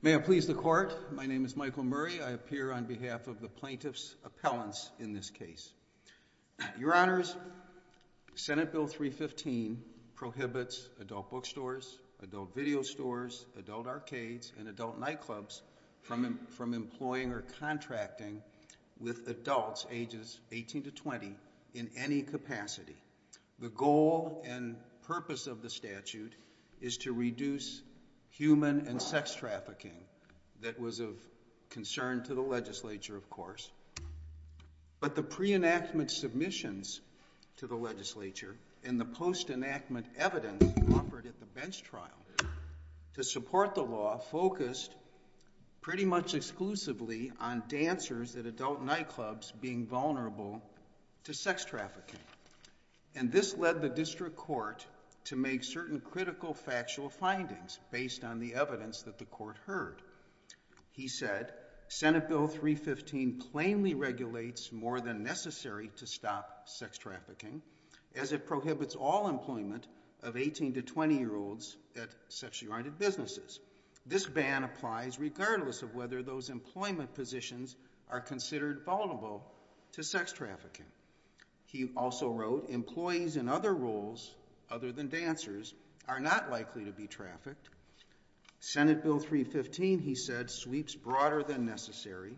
May it please the Court, my name is Michael Murray. I appear on behalf of the plaintiff's appellants in this case. Your Honors, Senate Bill 315 prohibits adult bookstores, adult video stores, adult arcades, and adult nightclubs from employing or contracting with adults ages 18 to 20 in any capacity. The goal and purpose of the statute is to reduce human and sex trafficking that was of concern to the legislature of course, but the pre-enactment submissions to the legislature and the post-enactment evidence offered at the bench trial to support the law focused pretty much exclusively on dancers at adult nightclubs being vulnerable to sex trafficking and this led the district court to make certain critical factual findings based on the evidence that the court heard. He said Senate Bill 315 plainly regulates more than necessary to stop sex trafficking as it prohibits all employment of 18 to 20 year olds at businesses. This ban applies regardless of whether those employment positions are considered vulnerable to sex trafficking. He also wrote employees in other roles other than dancers are not likely to be trafficked. Senate Bill 315 he said sweeps broader than necessary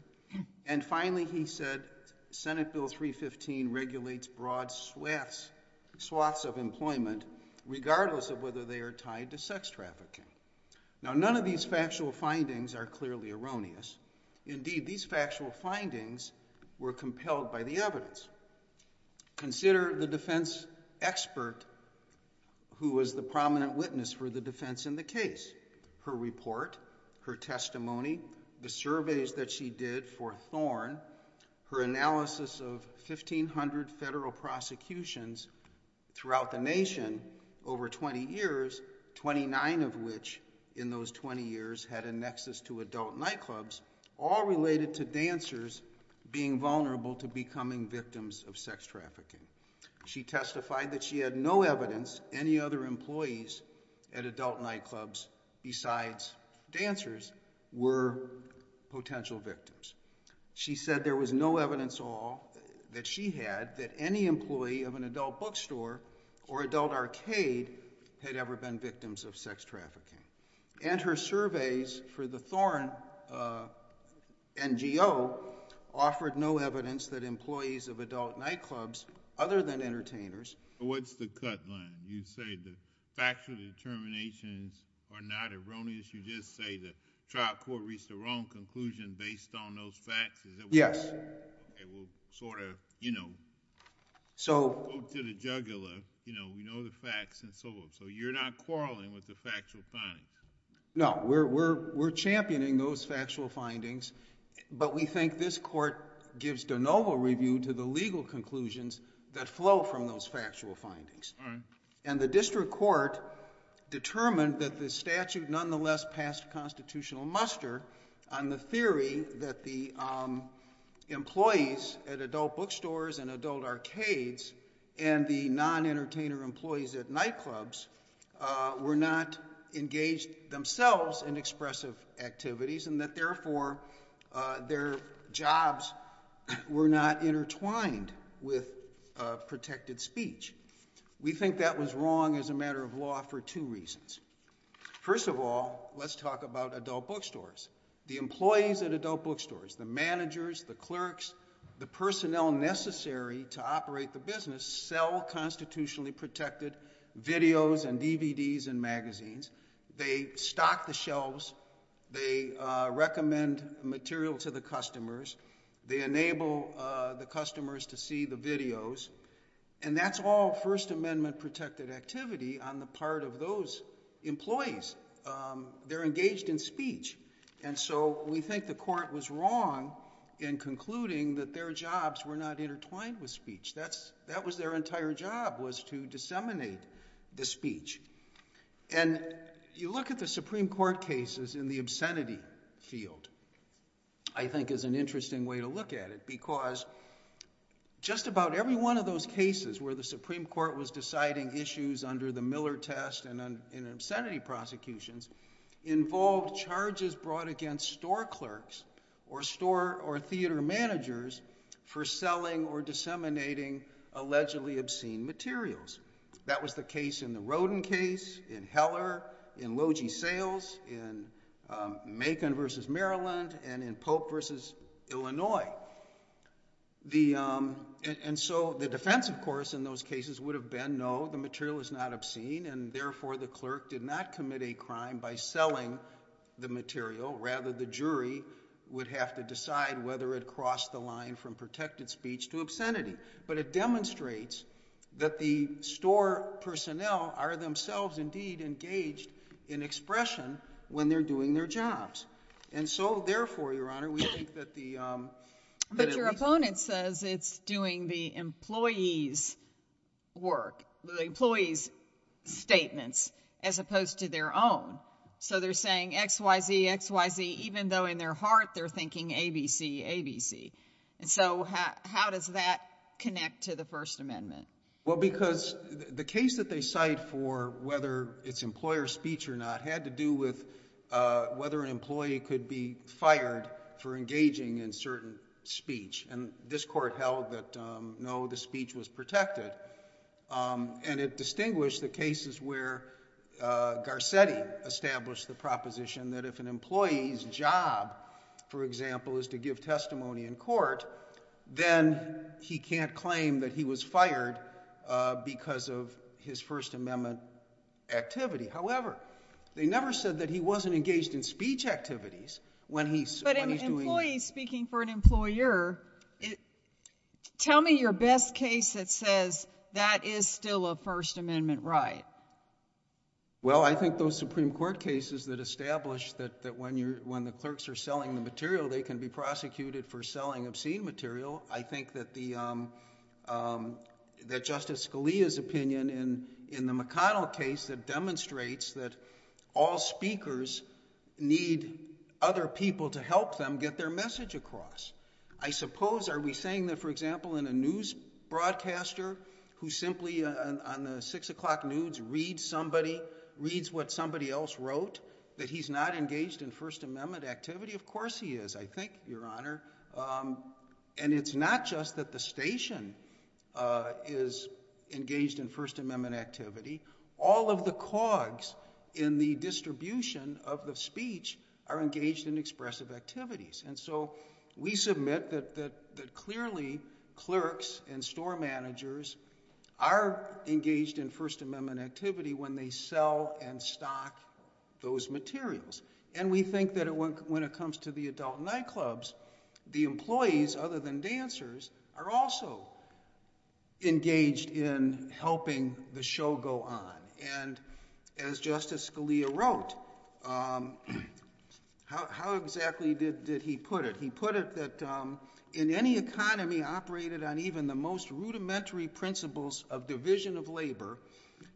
and finally he said Senate Bill 315 regulates broad swaths of employment regardless of whether they are tied to sex trafficking. Now none of these factual findings are clearly erroneous. Indeed these factual findings were compelled by the evidence. Consider the defense expert who was the prominent witness for the defense in the case. Her report, her testimony, the surveys that she did for Thorne, her analysis of 1,500 federal prosecutions throughout the nation over 20 years, 29 of which in those 20 years had a nexus to adult nightclubs, all related to dancers being vulnerable to becoming victims of sex trafficking. She testified that she had no evidence any other employees at adult nightclubs besides dancers were potential victims. She said there was no evidence at all that she had that any employee of an adult bookstore or adult arcade had ever been victims of sex trafficking. And her surveys for the Thorne NGO offered no evidence that employees of adult nightclubs other than entertainers. What's the cut line? You say the factual determinations are not erroneous? You just say the trial court reached the wrong conclusion based on those facts? Yes. It will sort of, you know, go to the jugular, you know, we know the facts and so forth. So you're not quarreling with the factual findings? No, we're championing those factual findings, but we think this court gives de novo review to the legal conclusions that flow from those factual findings. And the district court determined that the statute nonetheless passed constitutional muster on the theory that the employees at adult bookstores and adult arcades and the non-entertainer employees at nightclubs were not engaged themselves in expressive activities and that therefore their jobs were not intertwined with protected speech. We think that was wrong as a matter of law for two reasons. First of all, let's talk about adult bookstores. The employees at adult bookstores, the managers, the clerks, the personnel necessary to operate the business sell constitutionally protected videos and DVDs and magazines. They stock the shelves. They recommend material to the customers. They enable the customers to see the videos. And that's all first amendment protected activity on the part of those employees. They're engaged in speech. And so we think the court was wrong in concluding that their jobs were not intertwined with speech. That's, that was their entire job was to disseminate the speech. And you look at the Supreme Court cases in the obscenity field, I think is an interesting way to look at it because just about every one of those cases where the Supreme Court was deciding issues under the Miller test and in obscenity prosecutions involved charges brought against store clerks or store or theater managers for selling or disseminating allegedly obscene materials. That was the case in the Rodin case, in Heller, in Logee Sales, in Macon versus Maryland, and in Pope versus Illinois. The, um, and so the defense of course, in those cases would have been, no, the material is not obscene. And therefore the clerk did not commit a crime by selling the material. Rather, the jury would have to decide whether it crossed the line from protected speech to obscenity, but it demonstrates that the store personnel are themselves indeed engaged in expression when they're doing their jobs. And so therefore, Your Honor, we think that the, um, but your opponent says it's doing the employees work, the employees statements, as opposed to their own. So they're saying X, Y, Z, X, Y, Z, even though in their heart, they're thinking ABC, ABC. And so how, how does that connect to the first amendment? Well, because the case that they cite for, whether it's employer speech or not, had to do with, uh, whether an employee could be fired for engaging in certain speech. And this court held that, um, no, the speech was protected. Um, and it distinguished the cases where, uh, Garcetti established the proposition that if an employee's job, for example, is to give testimony in court, then he can't claim that he was fired, uh, because of his first amendment activity. However, they never said that he wasn't engaged in speech activities when he's, when he's doing it. But an employee speaking for an employer, tell me your best case that says that is still a first amendment right? Well, I think those Supreme Court cases that established that, that when you're, when the clerks are selling the material, they can be prosecuted for selling obscene material. I think that the, um, um, that justice Scalia's opinion in, in the McConnell case that demonstrates that all speakers need other people to help them get their message across. I suppose, are we saying that, for example, in a news broadcaster who simply on the six o'clock news, read somebody reads what somebody else wrote that he's not engaged in first amendment activity? Of course he is. I think your honor. Um, and it's not just that the station, uh, is engaged in first amendment activity. All of the cogs in the distribution of the speech are engaged in expressive activities. And so we submit that, that, that clearly clerks and store managers are engaged in first amendment activity when they sell and stock those materials. And we think that it went, when it comes to the adult nightclubs, the employees, other than dancers, are also engaged in helping the show go on. And as justice Scalia wrote, um, how, how exactly did, he put it? He put it that, um, in any economy operated on even the most rudimentary principles of division of labor,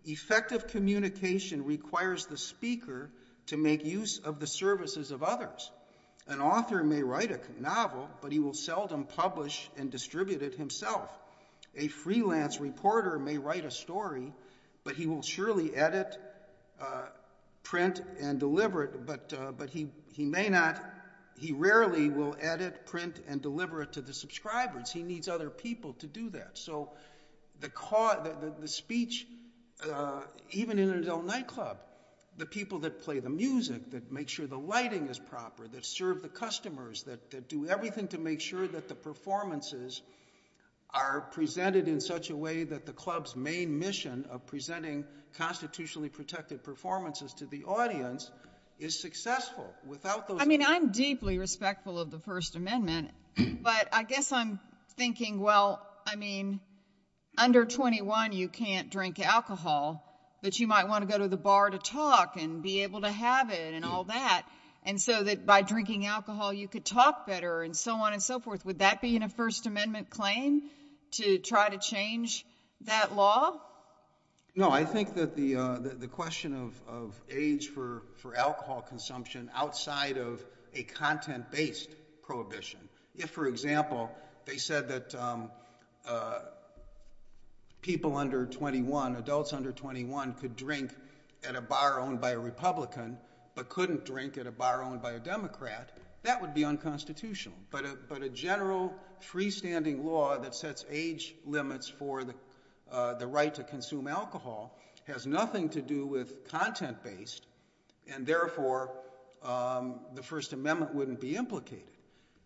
effective communication requires the speaker to make use of the services of others. An author may write a novel, but he will seldom publish and distribute it himself. A freelance reporter may write a story, but he will surely edit, uh, print and deliver it. But, uh, but he, he may not, he rarely will edit, print and deliver it to the subscribers. He needs other people to do that. So the cause, the speech, uh, even in an adult nightclub, the people that play the music, that make sure the lighting is proper, that serve the customers, that do everything to make sure that the performances are presented in such a way that the club's main of presenting constitutionally protected performances to the audience is successful without those. I mean, I'm deeply respectful of the first amendment, but I guess I'm thinking, well, I mean, under 21, you can't drink alcohol, but you might want to go to the bar to talk and be able to have it and all that. And so that by drinking alcohol, you could talk better and so forth. Would that be in a first amendment claim to try to change that law? No, I think that the, uh, the, the question of, of age for, for alcohol consumption outside of a content-based prohibition, if for example, they said that, um, uh, people under 21, adults under 21 could drink at a bar owned by a Republican, but couldn't drink at a bar owned by a Democrat, that would be unconstitutional. But, uh, but a general freestanding law that sets age limits for the, uh, the right to consume alcohol has nothing to do with content-based and therefore, um, the first amendment wouldn't be implicated.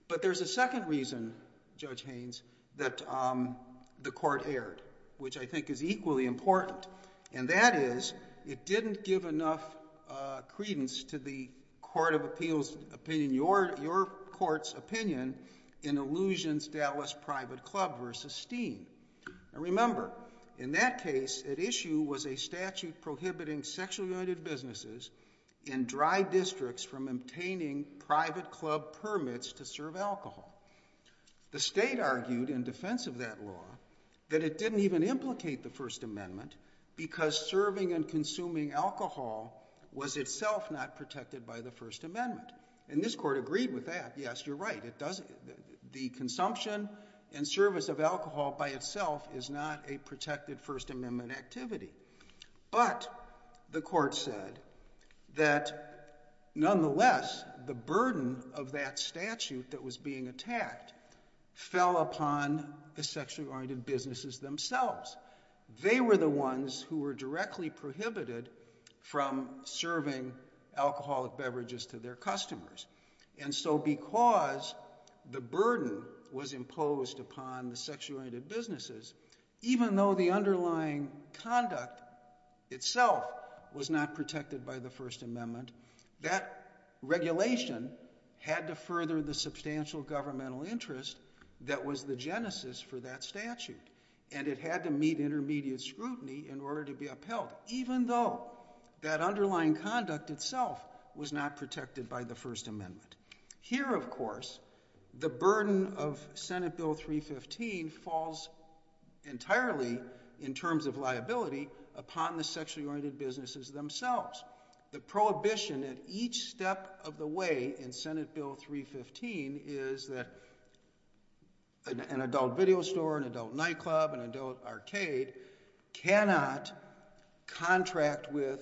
But there's a second reason, Judge Haynes, that, um, the court erred, which I think is equally important. And that is it didn't give enough, uh, credence to the court of appeals, opinion, your, your court's opinion in illusions Dallas private club versus steam. And remember in that case, it issue was a statute prohibiting sexually ointed businesses in dry districts from obtaining private club permits to serve alcohol. The state argued in defense of that law, that it didn't even implicate the first amendment because serving and consuming alcohol was itself not protected by the first amendment. And this court agreed with that. Yes, you're right. It doesn't. The consumption and service of alcohol by itself is not a protected first amendment activity. But the court said that nonetheless, the burden of that statute that was being attacked fell upon the sexually ointed businesses themselves. They were the ones who were directly prohibited from serving alcoholic beverages to their customers. And so because the burden was imposed upon the sexually ointed businesses, even though the underlying conduct itself was not protected by the first amendment, that regulation had to further the substantial governmental interest that was the Genesis for that statute. And it had to meet intermediate scrutiny in order to be upheld, even though that underlying conduct itself was not protected by the first amendment. Here, of course, the burden of Senate Bill 315 falls entirely in terms of liability upon the sexually ointed businesses themselves. The prohibition at each step of the way in Senate Bill 315 is that an adult video store, an adult nightclub, an adult arcade cannot contract with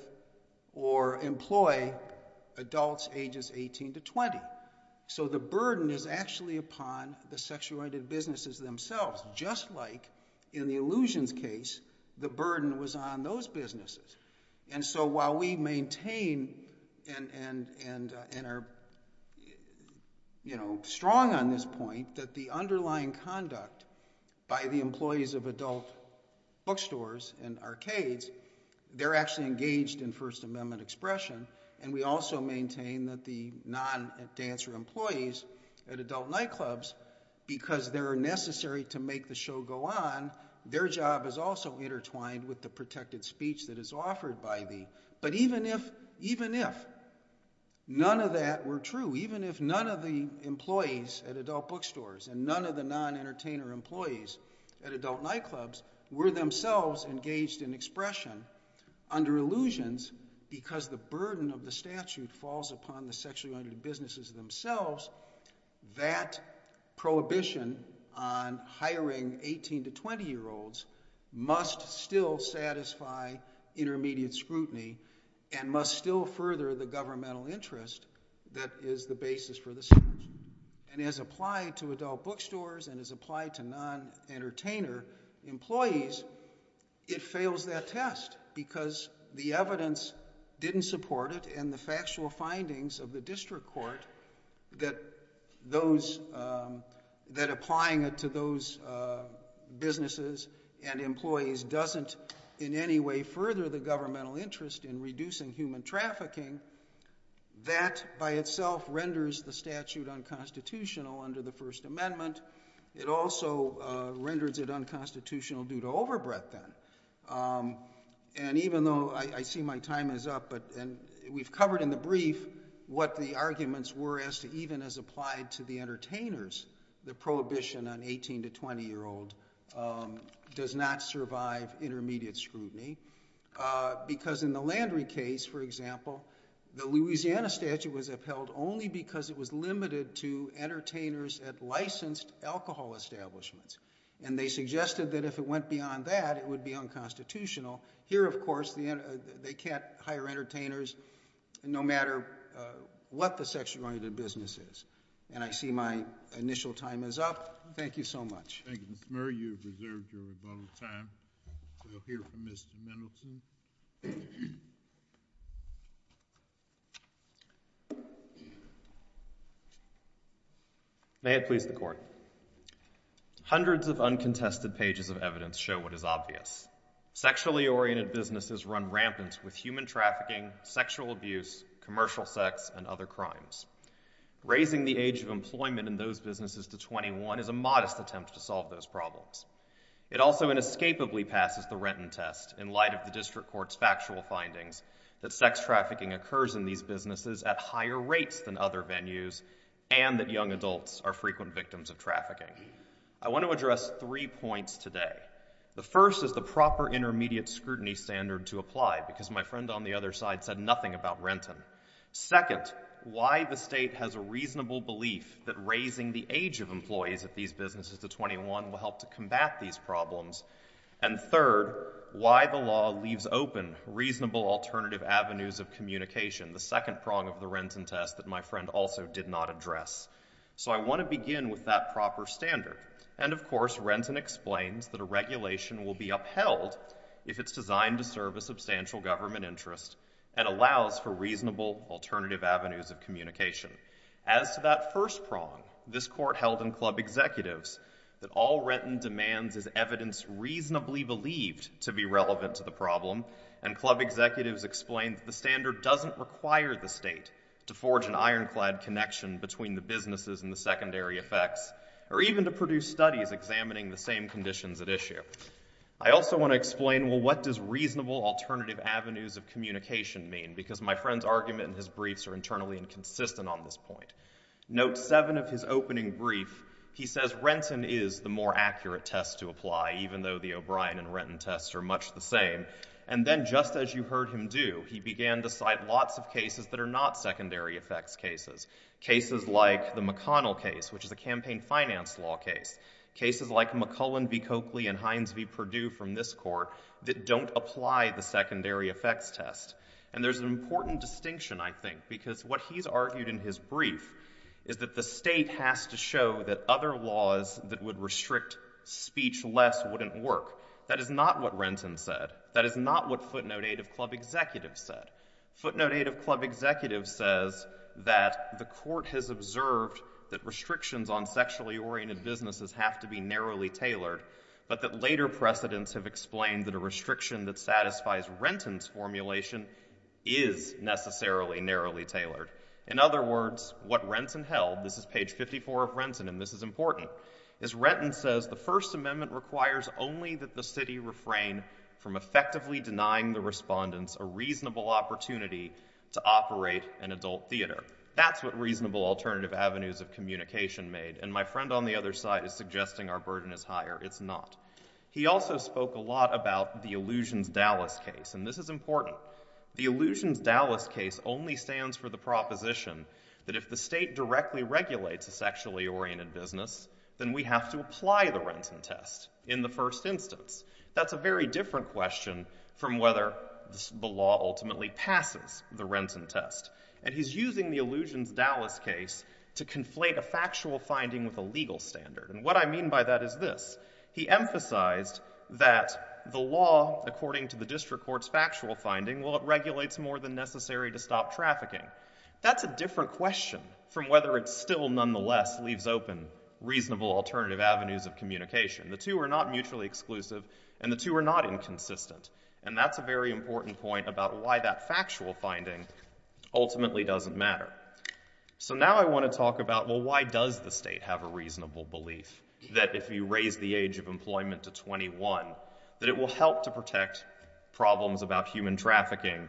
or employ adults ages 18 to 20. So the burden is actually upon the sexually ointed businesses themselves, just like in the illusions case, the burden was on those businesses. And so while we maintain and are strong on this point, that the underlying conduct by the employees of adult bookstores and arcades, they're actually engaged in first amendment expression, and we also maintain that the non-dancer employees at adult nightclubs, because they're necessary to make the show go on, their job is also intertwined with the protected speech that is offered by the, but even if, even if none of that were true, even if none of the employees at adult bookstores and none of the non-entertainer employees at adult nightclubs were themselves engaged in expression under illusions, because the burden of the statute falls upon the sexually ointed businesses themselves, that prohibition on hiring 18 to 20 year olds must still satisfy intermediate scrutiny and must still further the governmental interest that is the basis for the statute. And as applied to adult bookstores and as applied to non-entertainer employees, it fails that test because the evidence didn't support it and the factual findings of the district court that those, that applying it to those businesses and employees doesn't in any way further the governmental interest in reducing human trafficking, that by itself renders the statute unconstitutional under the first amendment. It also renders it unconstitutional due to overbreadth then. And even though, I see my time is up, but, and we've covered in the brief what the arguments were as to even as applied to the entertainers, the prohibition on 18 to 20 year old does not survive intermediate scrutiny, because in the Landry case, for example, the Louisiana statute was upheld only because it was limited to entertainers at licensed alcohol establishments. And they suggested that if it went beyond that, it would be unconstitutional. Here, of course, they can't hire entertainers no matter what the sexually ointed business is. And I see my initial time is up. Thank you so much. Thank you, Mr. Murray. You've reserved your rebuttal time. We'll hear from Mr. Mendelson. May it please the court. Hundreds of uncontested pages of evidence show what is obvious. Sexually oriented businesses run rampant with human trafficking, sexual abuse, commercial sex, and other crimes. Raising the age of employment in those businesses to 21 is a modest attempt to solve those problems. It also inescapably passes the Renton test in light of the district court's factual findings that sex trafficking occurs in these businesses at higher rates than other venues and that young adults are frequent victims of trafficking. I want to address three points today. The first is the proper intermediate scrutiny standard to apply, because my friend on the right, why the state has a reasonable belief that raising the age of employees at these businesses to 21 will help to combat these problems. And third, why the law leaves open reasonable alternative avenues of communication, the second prong of the Renton test that my friend also did not address. So I want to begin with that proper standard. And of course, Renton explains that a regulation will be upheld if it's designed to serve a substantial government interest and allows for reasonable alternative avenues of communication. As to that first prong, this court held in club executives that all Renton demands is evidence reasonably believed to be relevant to the problem, and club executives explained the standard doesn't require the state to forge an ironclad connection between the businesses and the secondary effects, or even to produce studies examining the same conditions at issue. I also want to explain, well, what does reasonable alternative avenues of communication mean, because my friend's argument and his briefs are internally inconsistent on this point. Note seven of his opening brief, he says Renton is the more accurate test to apply, even though the O'Brien and Renton tests are much the same. And then just as you heard him do, he began to cite lots of cases that are not secondary effects cases. Cases like the McConnell case, which is a campaign finance law case. Cases like McClellan v. Coakley and Hines v. Perdue from this court that don't apply the secondary effects test. And there's an important distinction, I think, because what he's argued in his brief is that the state has to show that other laws that would restrict speech less wouldn't work. That is not what Renton said. That is not what footnote eight of club executives said. Footnote eight of club executives says that the court has observed that restrictions on sexually oriented businesses have to be narrowly tailored, but that later precedents have explained that a restriction that satisfies Renton's formulation is necessarily narrowly tailored. In other words, what Renton held, this is page 54 of Renton, and this is important, is Renton says the First Amendment requires only that the city refrain from effectively denying the respondents a reasonable opportunity to operate an adult theater. That's what reasonable alternative avenues of communication made. And my friend on the other side is suggesting our burden is higher. It's not. He also spoke a lot about the Illusions Dallas case, and this is important. The Illusions Dallas case only stands for the proposition that if the state directly regulates a sexually oriented business, then we have to apply the Renton test in the first instance. That's a very different question from whether the law ultimately passes the Renton test. And he's using the Illusions Dallas case to conflate a factual finding with a legal standard. And what I mean by that is this. He emphasized that the law, according to the district court's factual finding, well, it regulates more than necessary to stop trafficking. That's a different question from whether it still nonetheless leaves open reasonable alternative avenues of communication. The two are not mutually exclusive and the two are not inconsistent. And that's a very important point about why that factual finding ultimately doesn't matter. So now I want to talk about, well, why does the state have a reasonable belief that if you raise the age of employment to 21, that it will help to protect problems about human trafficking,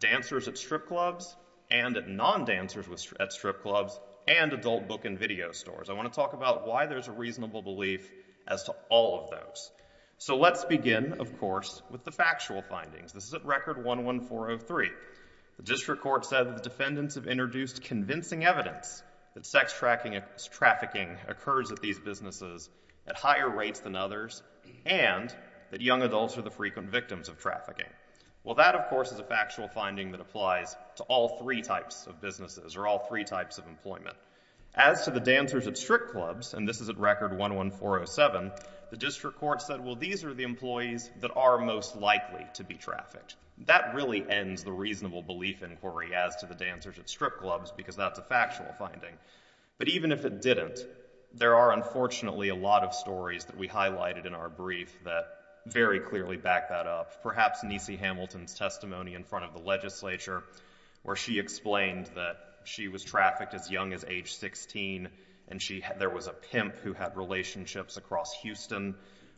dancers at strip clubs and non-dancers at strip clubs and adult book and video stores. I want to talk about why there's a reasonable belief as to all those. So let's begin, of course, with the factual findings. This is at record 11403. The district court said that the defendants have introduced convincing evidence that sex trafficking occurs at these businesses at higher rates than others and that young adults are the frequent victims of trafficking. Well, that, of course, is a factual finding that applies to all three types of businesses or all three types of employment. As to the dancers at strip clubs, and this is at record 11407, the district court said, well, these are the employees that are most likely to be trafficked. That really ends the reasonable belief inquiry as to the dancers at strip clubs because that's a factual finding. But even if it didn't, there are unfortunately a lot of stories that we highlighted in our brief that very clearly back that up. Perhaps Nisi Hamilton's testimony in front of the legislature where she explained that she was trafficked as young as age 16 and there was a pimp who had relationships across Houston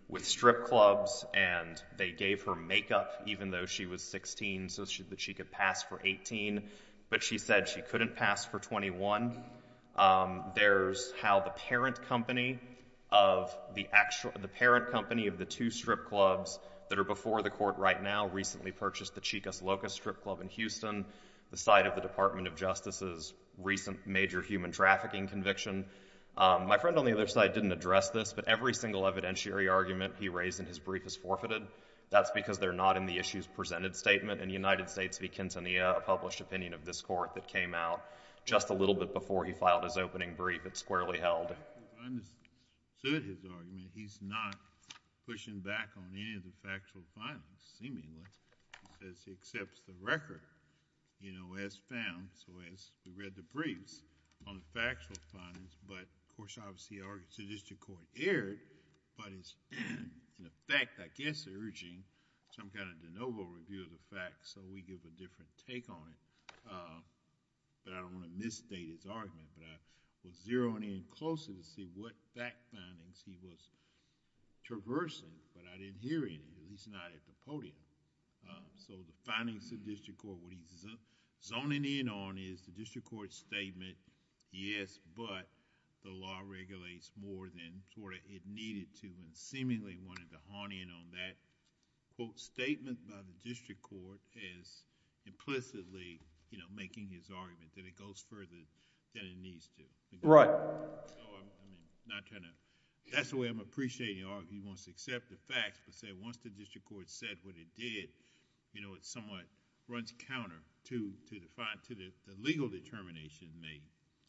with strip clubs and they gave her makeup even though she was 16 so that she could pass for 18. But she said she couldn't pass for 21. There's how the parent company of the two strip clubs that are before the court right now recently purchased the Chicas Locas strip club in Houston, the site of the Department of Justice's major recent human trafficking conviction. My friend on the other side didn't address this, but every single evidentiary argument he raised in his brief is forfeited. That's because they're not in the issues presented statement. In the United States v. Quintanilla, a published opinion of this court that came out just a little bit before he filed his opening brief, it's squarely held. If I understood his argument, he's not pushing back on any of the factual findings, seemingly. He says he accepts the record, you know, as found. So as we read the briefs on the factual findings, but of course, obviously, our judicial court erred, but it's in effect, I guess, urging some kind of de novo review of the facts. So we give a different take on it. But I don't want to misstate his argument, but I was zeroing in closer to see what fact findings he was traversing, but I didn't hear any. He's not at the podium. So the findings of the district court, what he's zoning in on is the district court's statement, yes, but the law regulates more than it needed to and seemingly wanted to hone in on that quote statement by the district court as implicitly, you know, making his argument that it goes further than it needs to. Right. That's the way I'm appreciating all of you want to accept the facts, but say once the district court said what it did, you know, it's somewhat runs counter to the legal determination made.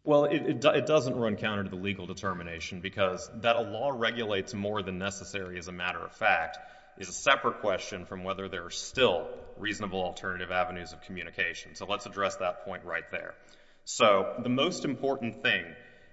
Well, it doesn't run counter to the legal determination because that a law regulates more than necessary as a matter of fact, is a separate question from whether there are still reasonable alternative avenues of communication. So let's address that point right there. So the most important thing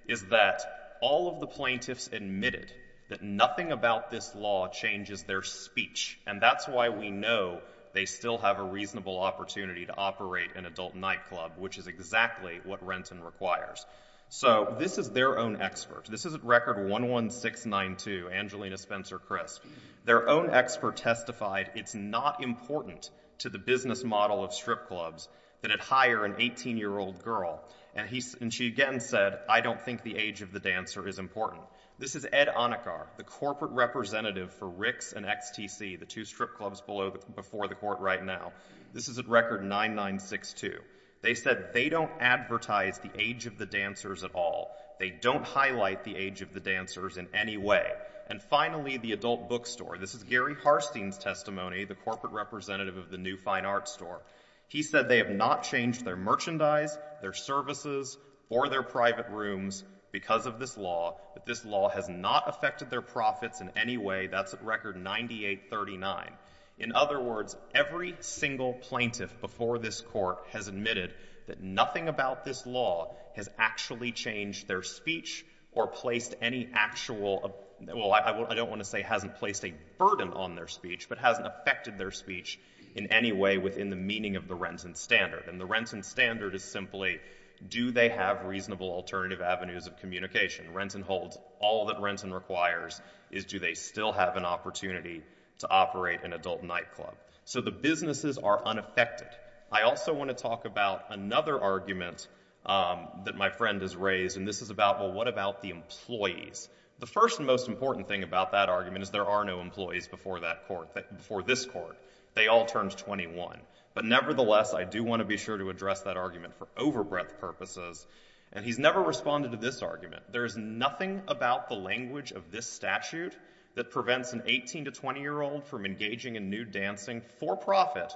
is that all of the plaintiffs admitted that nothing about this law changes their speech. And that's why we know they still have a reasonable opportunity to operate an adult nightclub, which is exactly what Renton requires. So this is their own experts. This is the business model of strip clubs that had hire an 18 year old girl. And he, and she again said, I don't think the age of the dancer is important. This is Ed on a car, the corporate representative for Ricks and XTC, the two strip clubs below before the court right now, this is a record nine, nine, six, two. They said they don't advertise the age of the dancers at all. They don't highlight the age of the dancers in any way. And finally, the adult bookstore, this is Gary Harstein's testimony, the corporate representative of the new fine art store. He said they have not changed their merchandise, their services, or their private rooms because of this law, that this law has not affected their profits in any way. That's at record 98 39. In other words, every single plaintiff before this court has admitted that nothing about this law has actually changed their speech or placed any actual, well, I don't want to say hasn't placed a burden on their speech, but hasn't affected their speech in any way within the meaning of the Renton standard. And the Renton standard is simply, do they have reasonable alternative avenues of communication? Renton holds all that Renton requires is, do they still have an opportunity to operate an adult nightclub? So the businesses are unaffected. I also want to talk about another argument that my friend has raised, and this is about, well, what about the employees? The first and most important thing about that argument is there are no employees before that court, before this court. They all turned 21. But nevertheless, I do want to be sure to address that argument for overbreadth purposes. And he's never responded to this argument. There is nothing about the language of this statute that prevents an 18 to 20 year old from engaging in nude dancing for profit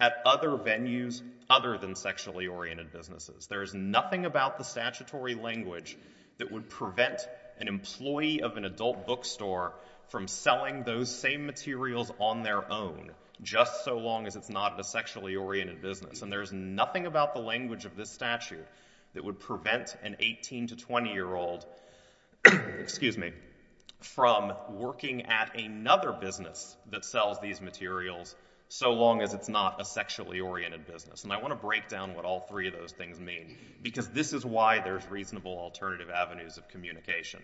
at other venues other than sexually oriented businesses. There is nothing about the language that would prevent an employee of an adult bookstore from selling those same materials on their own just so long as it's not a sexually oriented business. And there's nothing about the language of this statute that would prevent an 18 to 20 year old, excuse me, from working at another business that sells these materials so long as it's not a sexually oriented business. And I want to break down what all three of those things mean, because this is why there's reasonable alternative avenues of communication.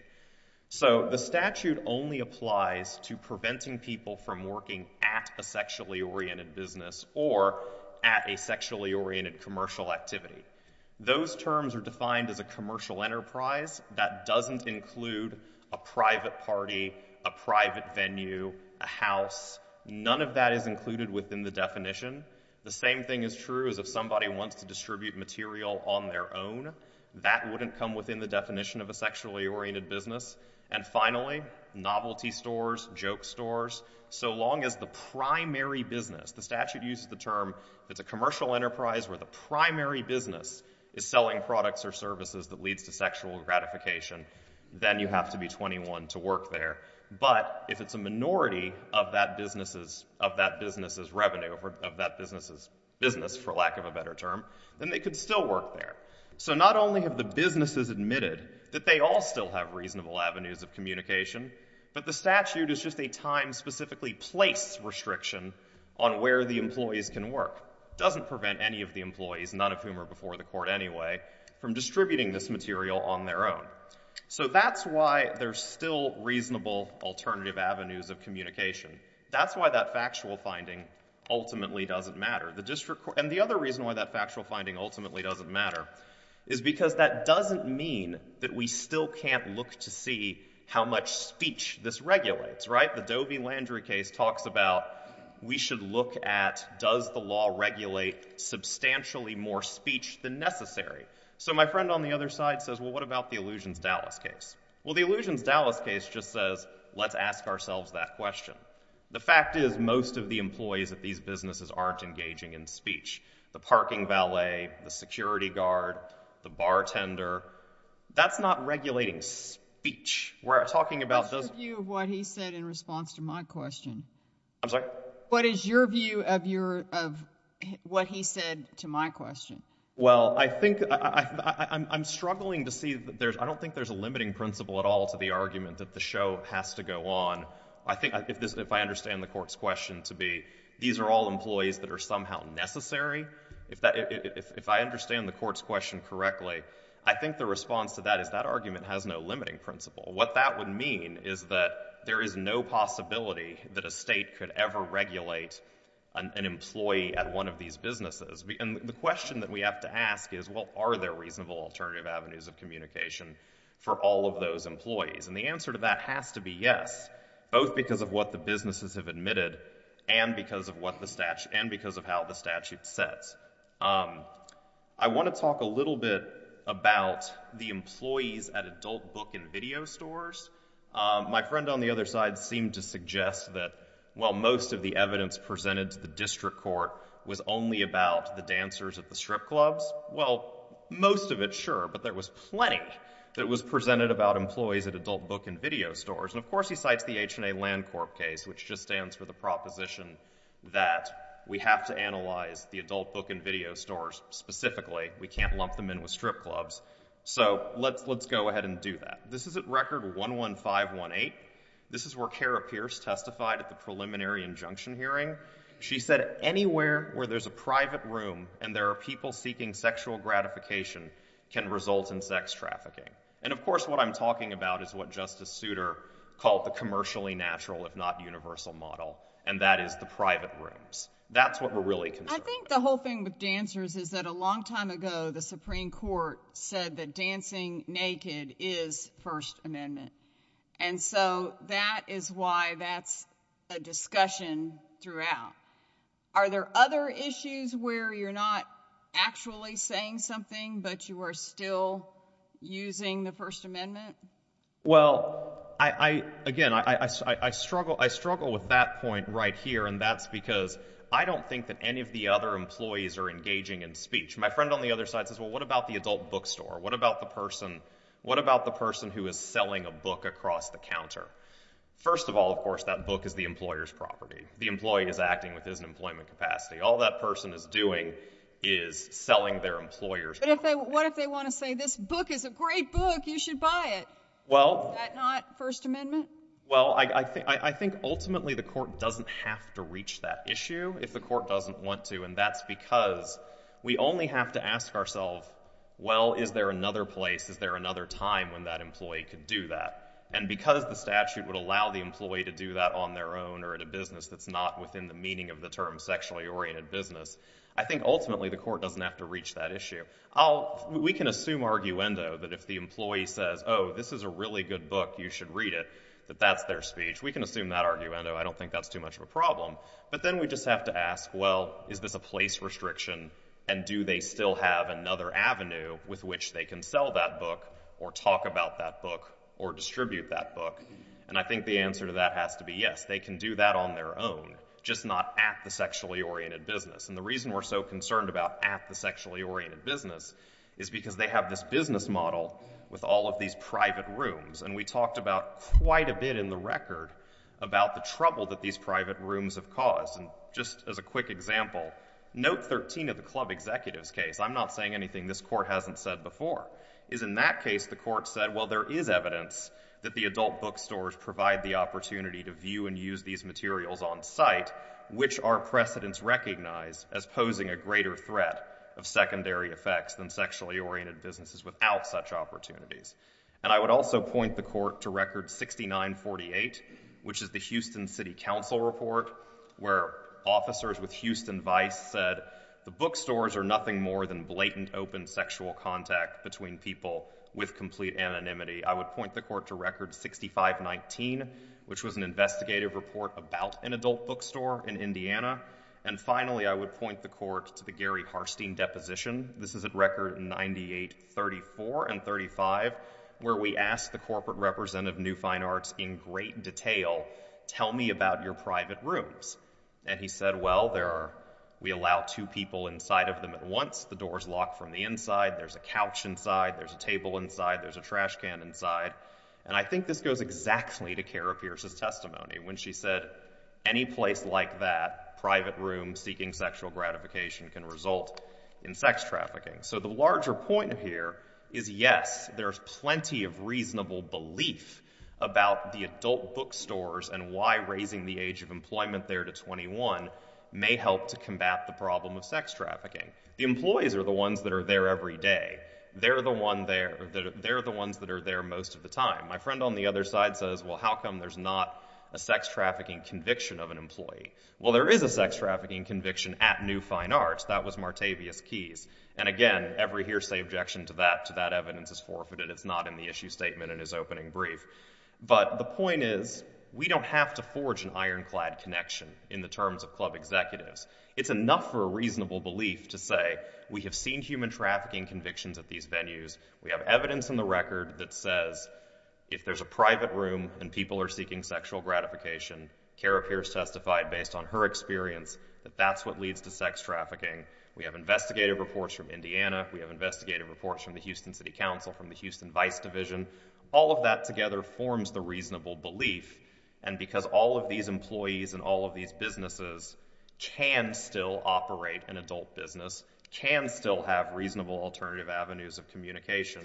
So the statute only applies to preventing people from working at a sexually oriented business or at a sexually oriented commercial activity. Those terms are defined as a commercial enterprise that doesn't include a private party, a private somebody wants to distribute material on their own, that wouldn't come within the definition of a sexually oriented business. And finally, novelty stores, joke stores, so long as the primary business, the statute uses the term, it's a commercial enterprise where the primary business is selling products or services that leads to sexual gratification, then you have to be 21 to work there. But if it's a minority of that business's revenue, of that business's business, for lack of a better term, then they could still work there. So not only have the businesses admitted that they all still have reasonable avenues of communication, but the statute is just a time specifically placed restriction on where the employees can work. Doesn't prevent any of the employees, none of whom are before the court anyway, from distributing this material on their own. So that's why there's still reasonable alternative avenues of communication. That's why that factual finding ultimately doesn't matter. And the other reason why that factual finding ultimately doesn't matter is because that doesn't mean that we still can't look to see how much speech this regulates, right? The Doe v. Landry case talks about, we should look at, does the law regulate substantially more speech than necessary? So my friend on the other side says, well, what about the Illusions Dallas case? Well, the Illusions Dallas case just says, let's ask ourselves that question. The fact is, most of the employees at these businesses aren't engaging in speech. The parking valet, the security guard, the bartender, that's not regulating speech. We're talking about those... What's your view of what he said in response to my question? I'm sorry? What is your view of what he said to my question? Well, I think I'm struggling to see that there's... I don't think there's a limiting principle at all to the argument that the show has to go on. I think if I understand the court's question to be, these are all employees that are somehow necessary. If I understand the court's question correctly, I think the response to that is that argument has no limiting principle. What that would mean is that there is no possibility that a state could ever regulate an employee at one of these businesses. The question that we have to ask is, well, are there reasonable alternative avenues of communication for all of those employees? The answer to that has to be yes, both because of what the businesses have admitted and because of how the statute sets. I want to talk a little bit about the employees at adult book and video stores. My friend on the other side seemed to suggest that, well, most of the evidence presented to the district court was only about the dancers at the strip clubs. Well, most of it, sure, but there was plenty that was presented about employees at adult book and video stores. And, of course, he cites the H&A Land Corp case, which just stands for the proposition that we have to analyze the adult book and video stores specifically. We can't lump them in with strip clubs. So let's go ahead and do that. This is at Record 11518. This is where Kara Pierce testified at preliminary injunction hearing. She said anywhere where there's a private room and there are people seeking sexual gratification can result in sex trafficking. And, of course, what I'm talking about is what Justice Souter called the commercially natural, if not universal, model, and that is the private rooms. That's what we're really concerned about. I think the whole thing with dancers is that a long time ago, the Supreme Court said that dancing naked is First Amendment. And so that is why that's a discussion throughout. Are there other issues where you're not actually saying something, but you are still using the First Amendment? Well, again, I struggle with that point right here, and that's because I don't think that any of the other employees are engaging in speech. My friend on the other side says, well, what about the adult bookstore? What about the person who is selling a book across the counter? First of all, of course, that book is the employer's property. The employee is acting with his employment capacity. All that person is doing is selling their employer's book. What if they want to say, this book is a great book. You should buy it. Well. Is that not First Amendment? Well, I think ultimately the court doesn't have to reach that issue if the court doesn't want to, and that's because we only have to ask ourselves, well, is there another place? Is there another time when that employee could do that? And because the statute would allow the employee to do that on their own or in a business that's not within the meaning of the term sexually-oriented business, I think ultimately the court doesn't have to reach that issue. We can assume arguendo that if the employee says, oh, this is a really good book. You should read it, that that's their speech. We can assume that arguendo. I don't think that's too much of a problem. But then we just have to ask, well, is this a place restriction, and do they still have another avenue with which they can sell that book or talk about that book or distribute that book? And I think the answer to that has to be yes. They can do that on their own, just not at the sexually-oriented business. And the reason we're so concerned about at the sexually-oriented business is because they have this business model with all of these private rooms. And we talked about quite a bit in the record about the trouble that these private rooms have caused. And just as a quick example, note 13 of the club executive's case, I'm not saying anything this court hasn't said before, is in that case the court said, well, there is evidence that the adult bookstores provide the opportunity to view and use these materials on site, which our precedents recognize as posing a greater threat of secondary effects than sexually-oriented businesses without such opportunities. And I would also point the court to record 6948, which is the Houston City Council report, where officers with Houston Vice said the bookstores are nothing more than blatant open sexual contact between people with complete anonymity. I would point the court to record 6519, which was an investigative report about an adult bookstore in Indiana. And finally, I would point the court to the Gary Harstein deposition. This is at record 9834 and 9535, where we asked the And he said, well, we allow two people inside of them at once, the doors lock from the inside, there's a couch inside, there's a table inside, there's a trash can inside. And I think this goes exactly to Kara Pierce's testimony when she said, any place like that, private room seeking sexual gratification can result in sex trafficking. So the larger point here is, yes, there's plenty of reasonable belief about the adult bookstores and why raising the age of employment there to 21 may help to combat the problem of sex trafficking. The employees are the ones that are there every day. They're the ones that are there most of the time. My friend on the other side says, well, how come there's not a sex trafficking conviction of an employee? Well, there is a sex trafficking conviction at New Fine Arts. That was Martavius Keyes. And again, every hearsay objection to that evidence is forfeited. It's not in the issue statement in his opening brief. But the point is, we don't have to forge an ironclad connection in the terms of club executives. It's enough for a reasonable belief to say, we have seen human trafficking convictions at these venues. We have evidence in the record that says, if there's a private room and people are seeking sexual gratification, Kara Pierce testified based on her experience that that's leads to sex trafficking. We have investigative reports from Indiana. We have investigative reports from the Houston City Council, from the Houston Vice Division. All of that together forms the reasonable belief. And because all of these employees and all of these businesses can still operate an adult business, can still have reasonable alternative avenues of communication,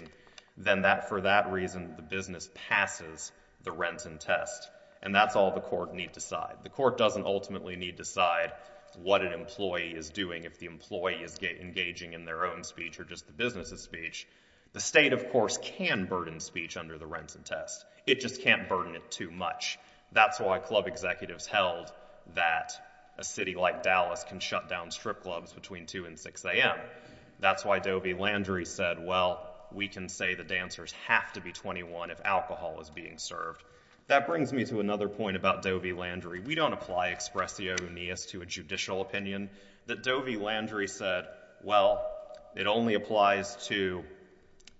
then for that reason, the business passes the Renton Test. And that's all the court need decide. The court doesn't ultimately need decide what an employee is doing, if the employee is engaging in their own speech or just the business's speech. The state, of course, can burden speech under the Renton Test. It just can't burden it too much. That's why club executives held that a city like Dallas can shut down strip clubs between 2 and 6 a.m. That's why Dovie Landry said, well, we can say the dancers have to be 21 if alcohol is being served. That brings me to another point about Dovie Landry. We don't apply expressio nius to a judicial opinion. That Dovie Landry said, well, it only applies to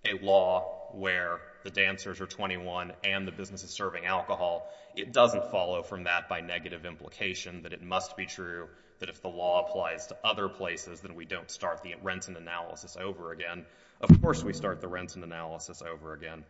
a law where the dancers are 21 and the business is serving alcohol. It doesn't follow from that by negative implication that it must be true that if the law applies to other places, then we don't start the Renton analysis over again. Of course, we start the Renton analysis over again.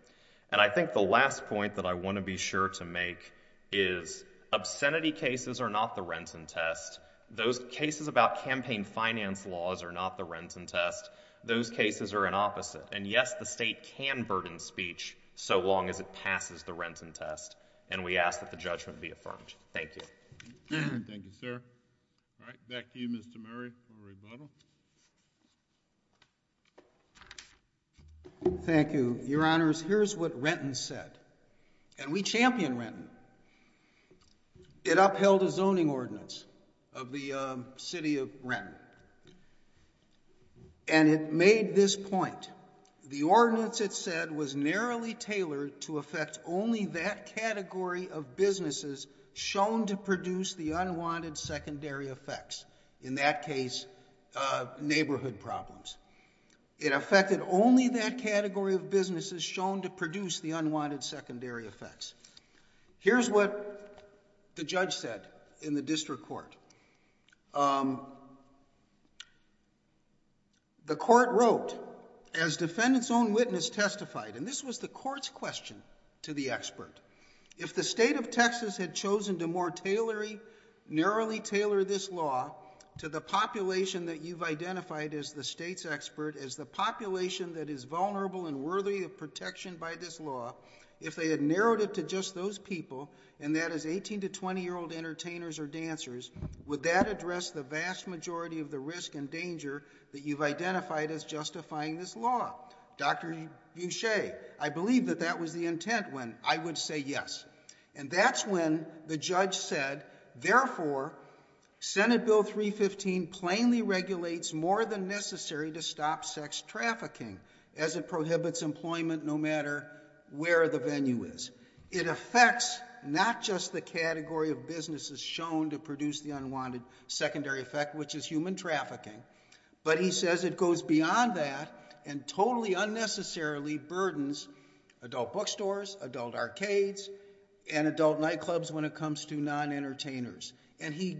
And I think the last point that I want to be sure to make is obscenity cases are not the Renton Test. Those cases about campaign finance laws are not the Renton Test. Those cases are an opposite. And, yes, the state can burden speech so long as it passes the Renton Test. And we ask that the judgment be affirmed. Thank you. Thank you, sir. All right. Back to you, Mr. Murray, for a rebuttal. Thank you, Your Honors. Here's what Renton said. And we champion Renton. It upheld a zoning ordinance of the city of Renton. And it made this point. The ordinance, it said, was narrowly tailored to affect only that category of businesses shown to produce the unwanted secondary effects. In that case, neighborhood problems. It affected only that category of businesses shown to produce the unwanted secondary effects. Here's what the judge said in the district court. The court wrote, as defendant's own witness testified, and this was the court's question to the expert, if the state of Texas had chosen to more narrowly tailor this law to the population that you've identified as the state's expert, as the population that is vulnerable and worthy of protection by this law, if they had narrowed it to just those people, and that is 18 to 20-year-old entertainers or dancers, would that address the vast majority of the risk and danger that you've identified as justifying this law? Dr. Boucher, I believe that that was the intent when I would say yes. And that's when the judge said, therefore, Senate Bill 315 plainly regulates more than necessary to stop sex trafficking as it prohibits employment no matter where the venue is. It affects not just the category of businesses shown to produce the unwanted secondary effect, which is human trafficking, but he says it goes beyond that and totally unnecessarily burdens adult bookstores, adult arcades, and adult nightclubs when it comes to non-entertainers. And he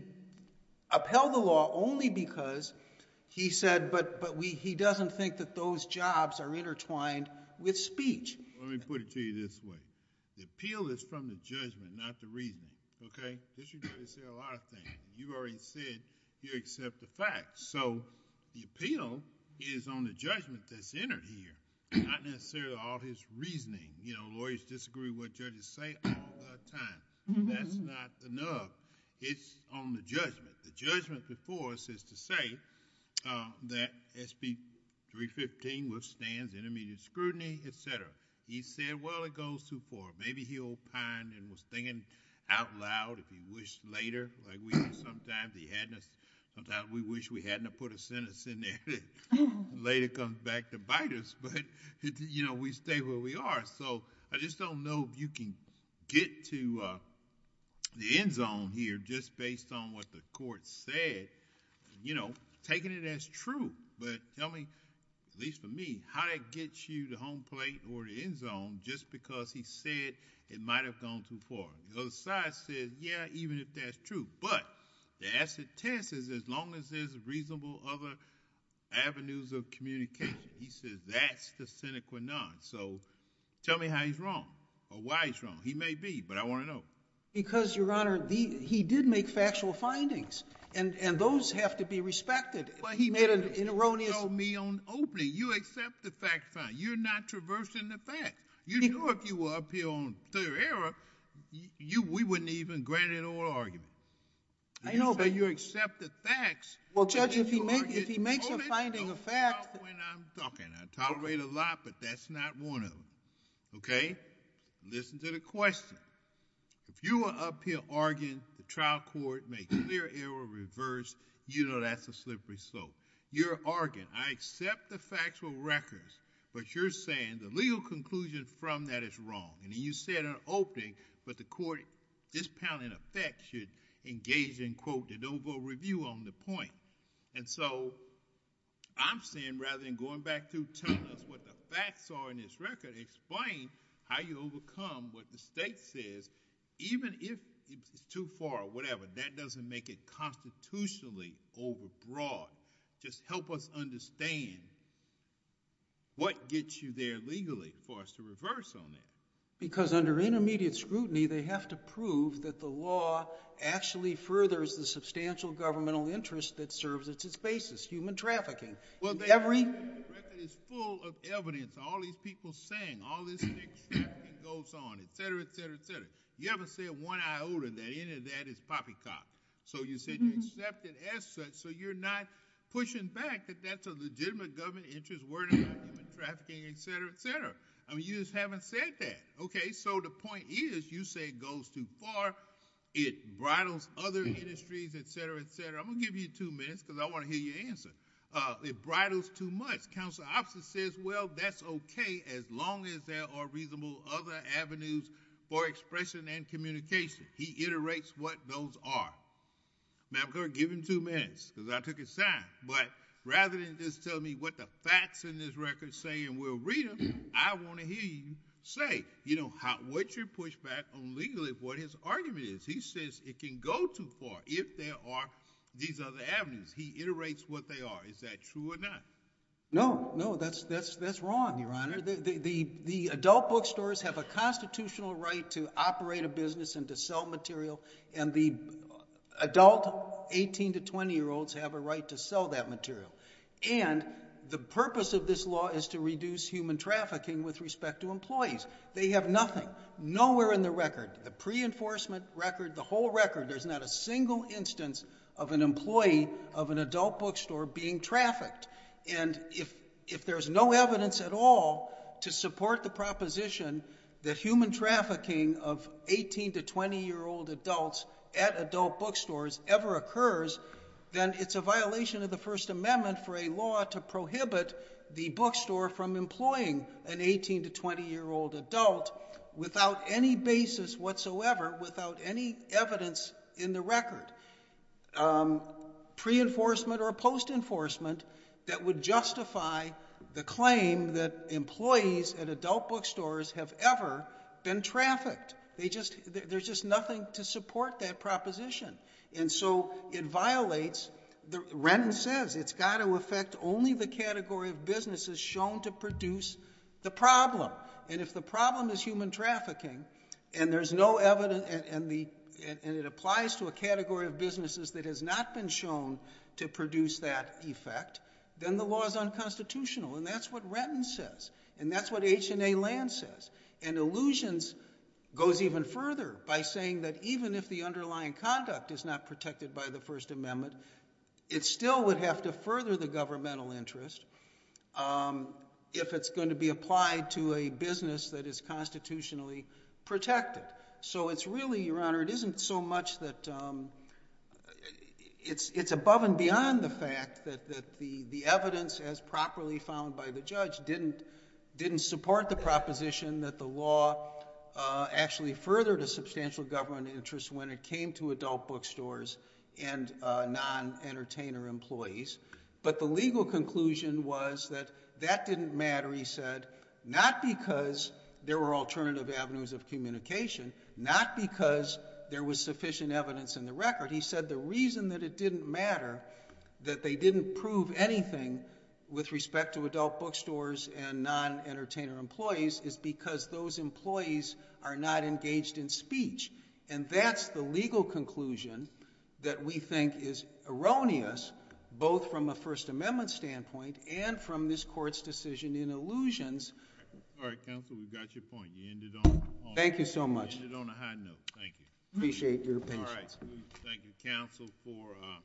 upheld the law only because he said, but he doesn't think that those jobs are intertwined with speech. Let me put it to you this way. The appeal is from the judgment, not the reasoning, okay? This should say a lot of things. You've already said you accept the facts. So, the appeal is on the judgment that's entered here, not necessarily all his reasoning. Lawyers disagree what judges say all the time. That's not enough. It's on the judgment. The judgment before us is to say that SB 315 withstands intermediate scrutiny, etc. He said, well, maybe he opined and was thinking out loud if he wished later. Sometimes we wish we hadn't put a sentence in there that later comes back to bite us, but we stay where we are. So, I just don't know if you can get to the end zone here just based on what the court said, taking it as true. But tell me, at least for me, how that gets you to home plate or the end zone just because he said it might have gone too far. The other side says, yeah, even if that's true, but the acid test is as long as there's reasonable other avenues of communication. He says that's the sine qua non. So, tell me how he's wrong or why he's wrong. He may be, but I want to know. Because, Your Honor, he did make factual findings, and those have to be respected. But he made an erroneous... He told me on opening, you accept the fact find. You're not traversing the facts. You know if you were up here on clear error, we wouldn't even grant an oral argument. I know, but... You say you accept the facts... Well, Judge, if he makes a finding of facts... Oh, let's go. Stop when I'm talking. I tolerate a lot, but that's not one of them, okay? Listen to the question. If you are up here arguing the trial court makes clear error or reverse, you know that's a slippery slope. You're arguing, I accept the factual records, but you're saying the legal conclusion from that is wrong. And you said on opening, but the court, this panel in effect should engage in, quote, the noble review on the point. And so, I'm saying rather than going back to telling us what the facts are in this record, explain how you overcome what the state says, even if it's too far or whatever. That doesn't make it constitutionally over broad. Just help us understand what gets you there legally for us to reverse on that. Because under intermediate scrutiny, they have to prove that the law actually furthers the substantial governmental interest that serves as its basis, human trafficking. Every... Well, the record is full of evidence. All these people saying all this trafficking goes on, et cetera, et cetera, et cetera. You haven't said one iota that any of that is poppycock. So, you said you accept it as such. So, you're not pushing back that that's a legitimate government interest. We're talking about human trafficking, et cetera, et cetera. I mean, you just haven't said that. Okay. So, the point is you say it goes too far. It bridles other industries, et cetera, et cetera. I'm going to give you two minutes, because I want to hear your answer. It bridles too much. Well, that's okay as long as there are reasonable other avenues for expression and communication. He iterates what those are. Now, I'm going to give him two minutes, because I took his time. But rather than just tell me what the facts in this record say and we'll read them, I want to hear you say what your pushback on legally what his argument is. He says it can go too far if there are these other avenues. He iterates what they are. Is that true or not? No. No, that's wrong, Your Honor. The adult bookstores have a constitutional right to operate a business and to sell material, and the adult 18 to 20-year-olds have a right to sell that material. And the purpose of this law is to reduce human trafficking with respect to employees. They have nothing, nowhere in the record, the pre-enforcement record, the whole record, there's not a single instance of an employee of an adult bookstore being trafficked. And if there's no evidence at all to support the proposition that human trafficking of 18 to 20-year-old adults at adult bookstores ever occurs, then it's a violation of the First Amendment for a law to prohibit the bookstore from employing an 18 to 20-year-old adult without any basis whatsoever, without any evidence in the record. Um, pre-enforcement or post-enforcement that would justify the claim that employees at adult bookstores have ever been trafficked. They just, there's just nothing to support that proposition. And so it violates, Renton says, it's got to affect only the category of businesses shown to produce the problem. And if the problem is human trafficking, and there's no evidence, and it applies to a category of businesses that has not been shown to produce that effect, then the law is unconstitutional. And that's what Renton says. And that's what H and A Land says. And illusions goes even further by saying that even if the underlying conduct is not protected by the First Amendment, it still would have to further the governmental interest, um, if it's going to be applied to a business that is constitutionally protected. So it's really, Your Honor, it isn't so much that, um, it's, it's above and beyond the fact that, that the, the evidence as properly found by the judge didn't, didn't support the proposition that the law, uh, actually furthered a substantial government interest when it came to adult bookstores and, uh, non-entertainer employees. But the legal conclusion was that that didn't matter, he said, not because there were alternative avenues of communication, not because there was sufficient evidence in the record. He said the reason that it didn't matter that they didn't prove anything with respect to adult bookstores and non-entertainer employees is because those employees are not engaged in speech. And that's the legal conclusion that we think is erroneous, both from a First Amendment standpoint and from this Court's decision in allusions. All right, counsel, we've got your point. You ended on... Thank you so much. You ended on a high note. Thank you. Appreciate your patience. All right. Thank you, counsel, for, uh...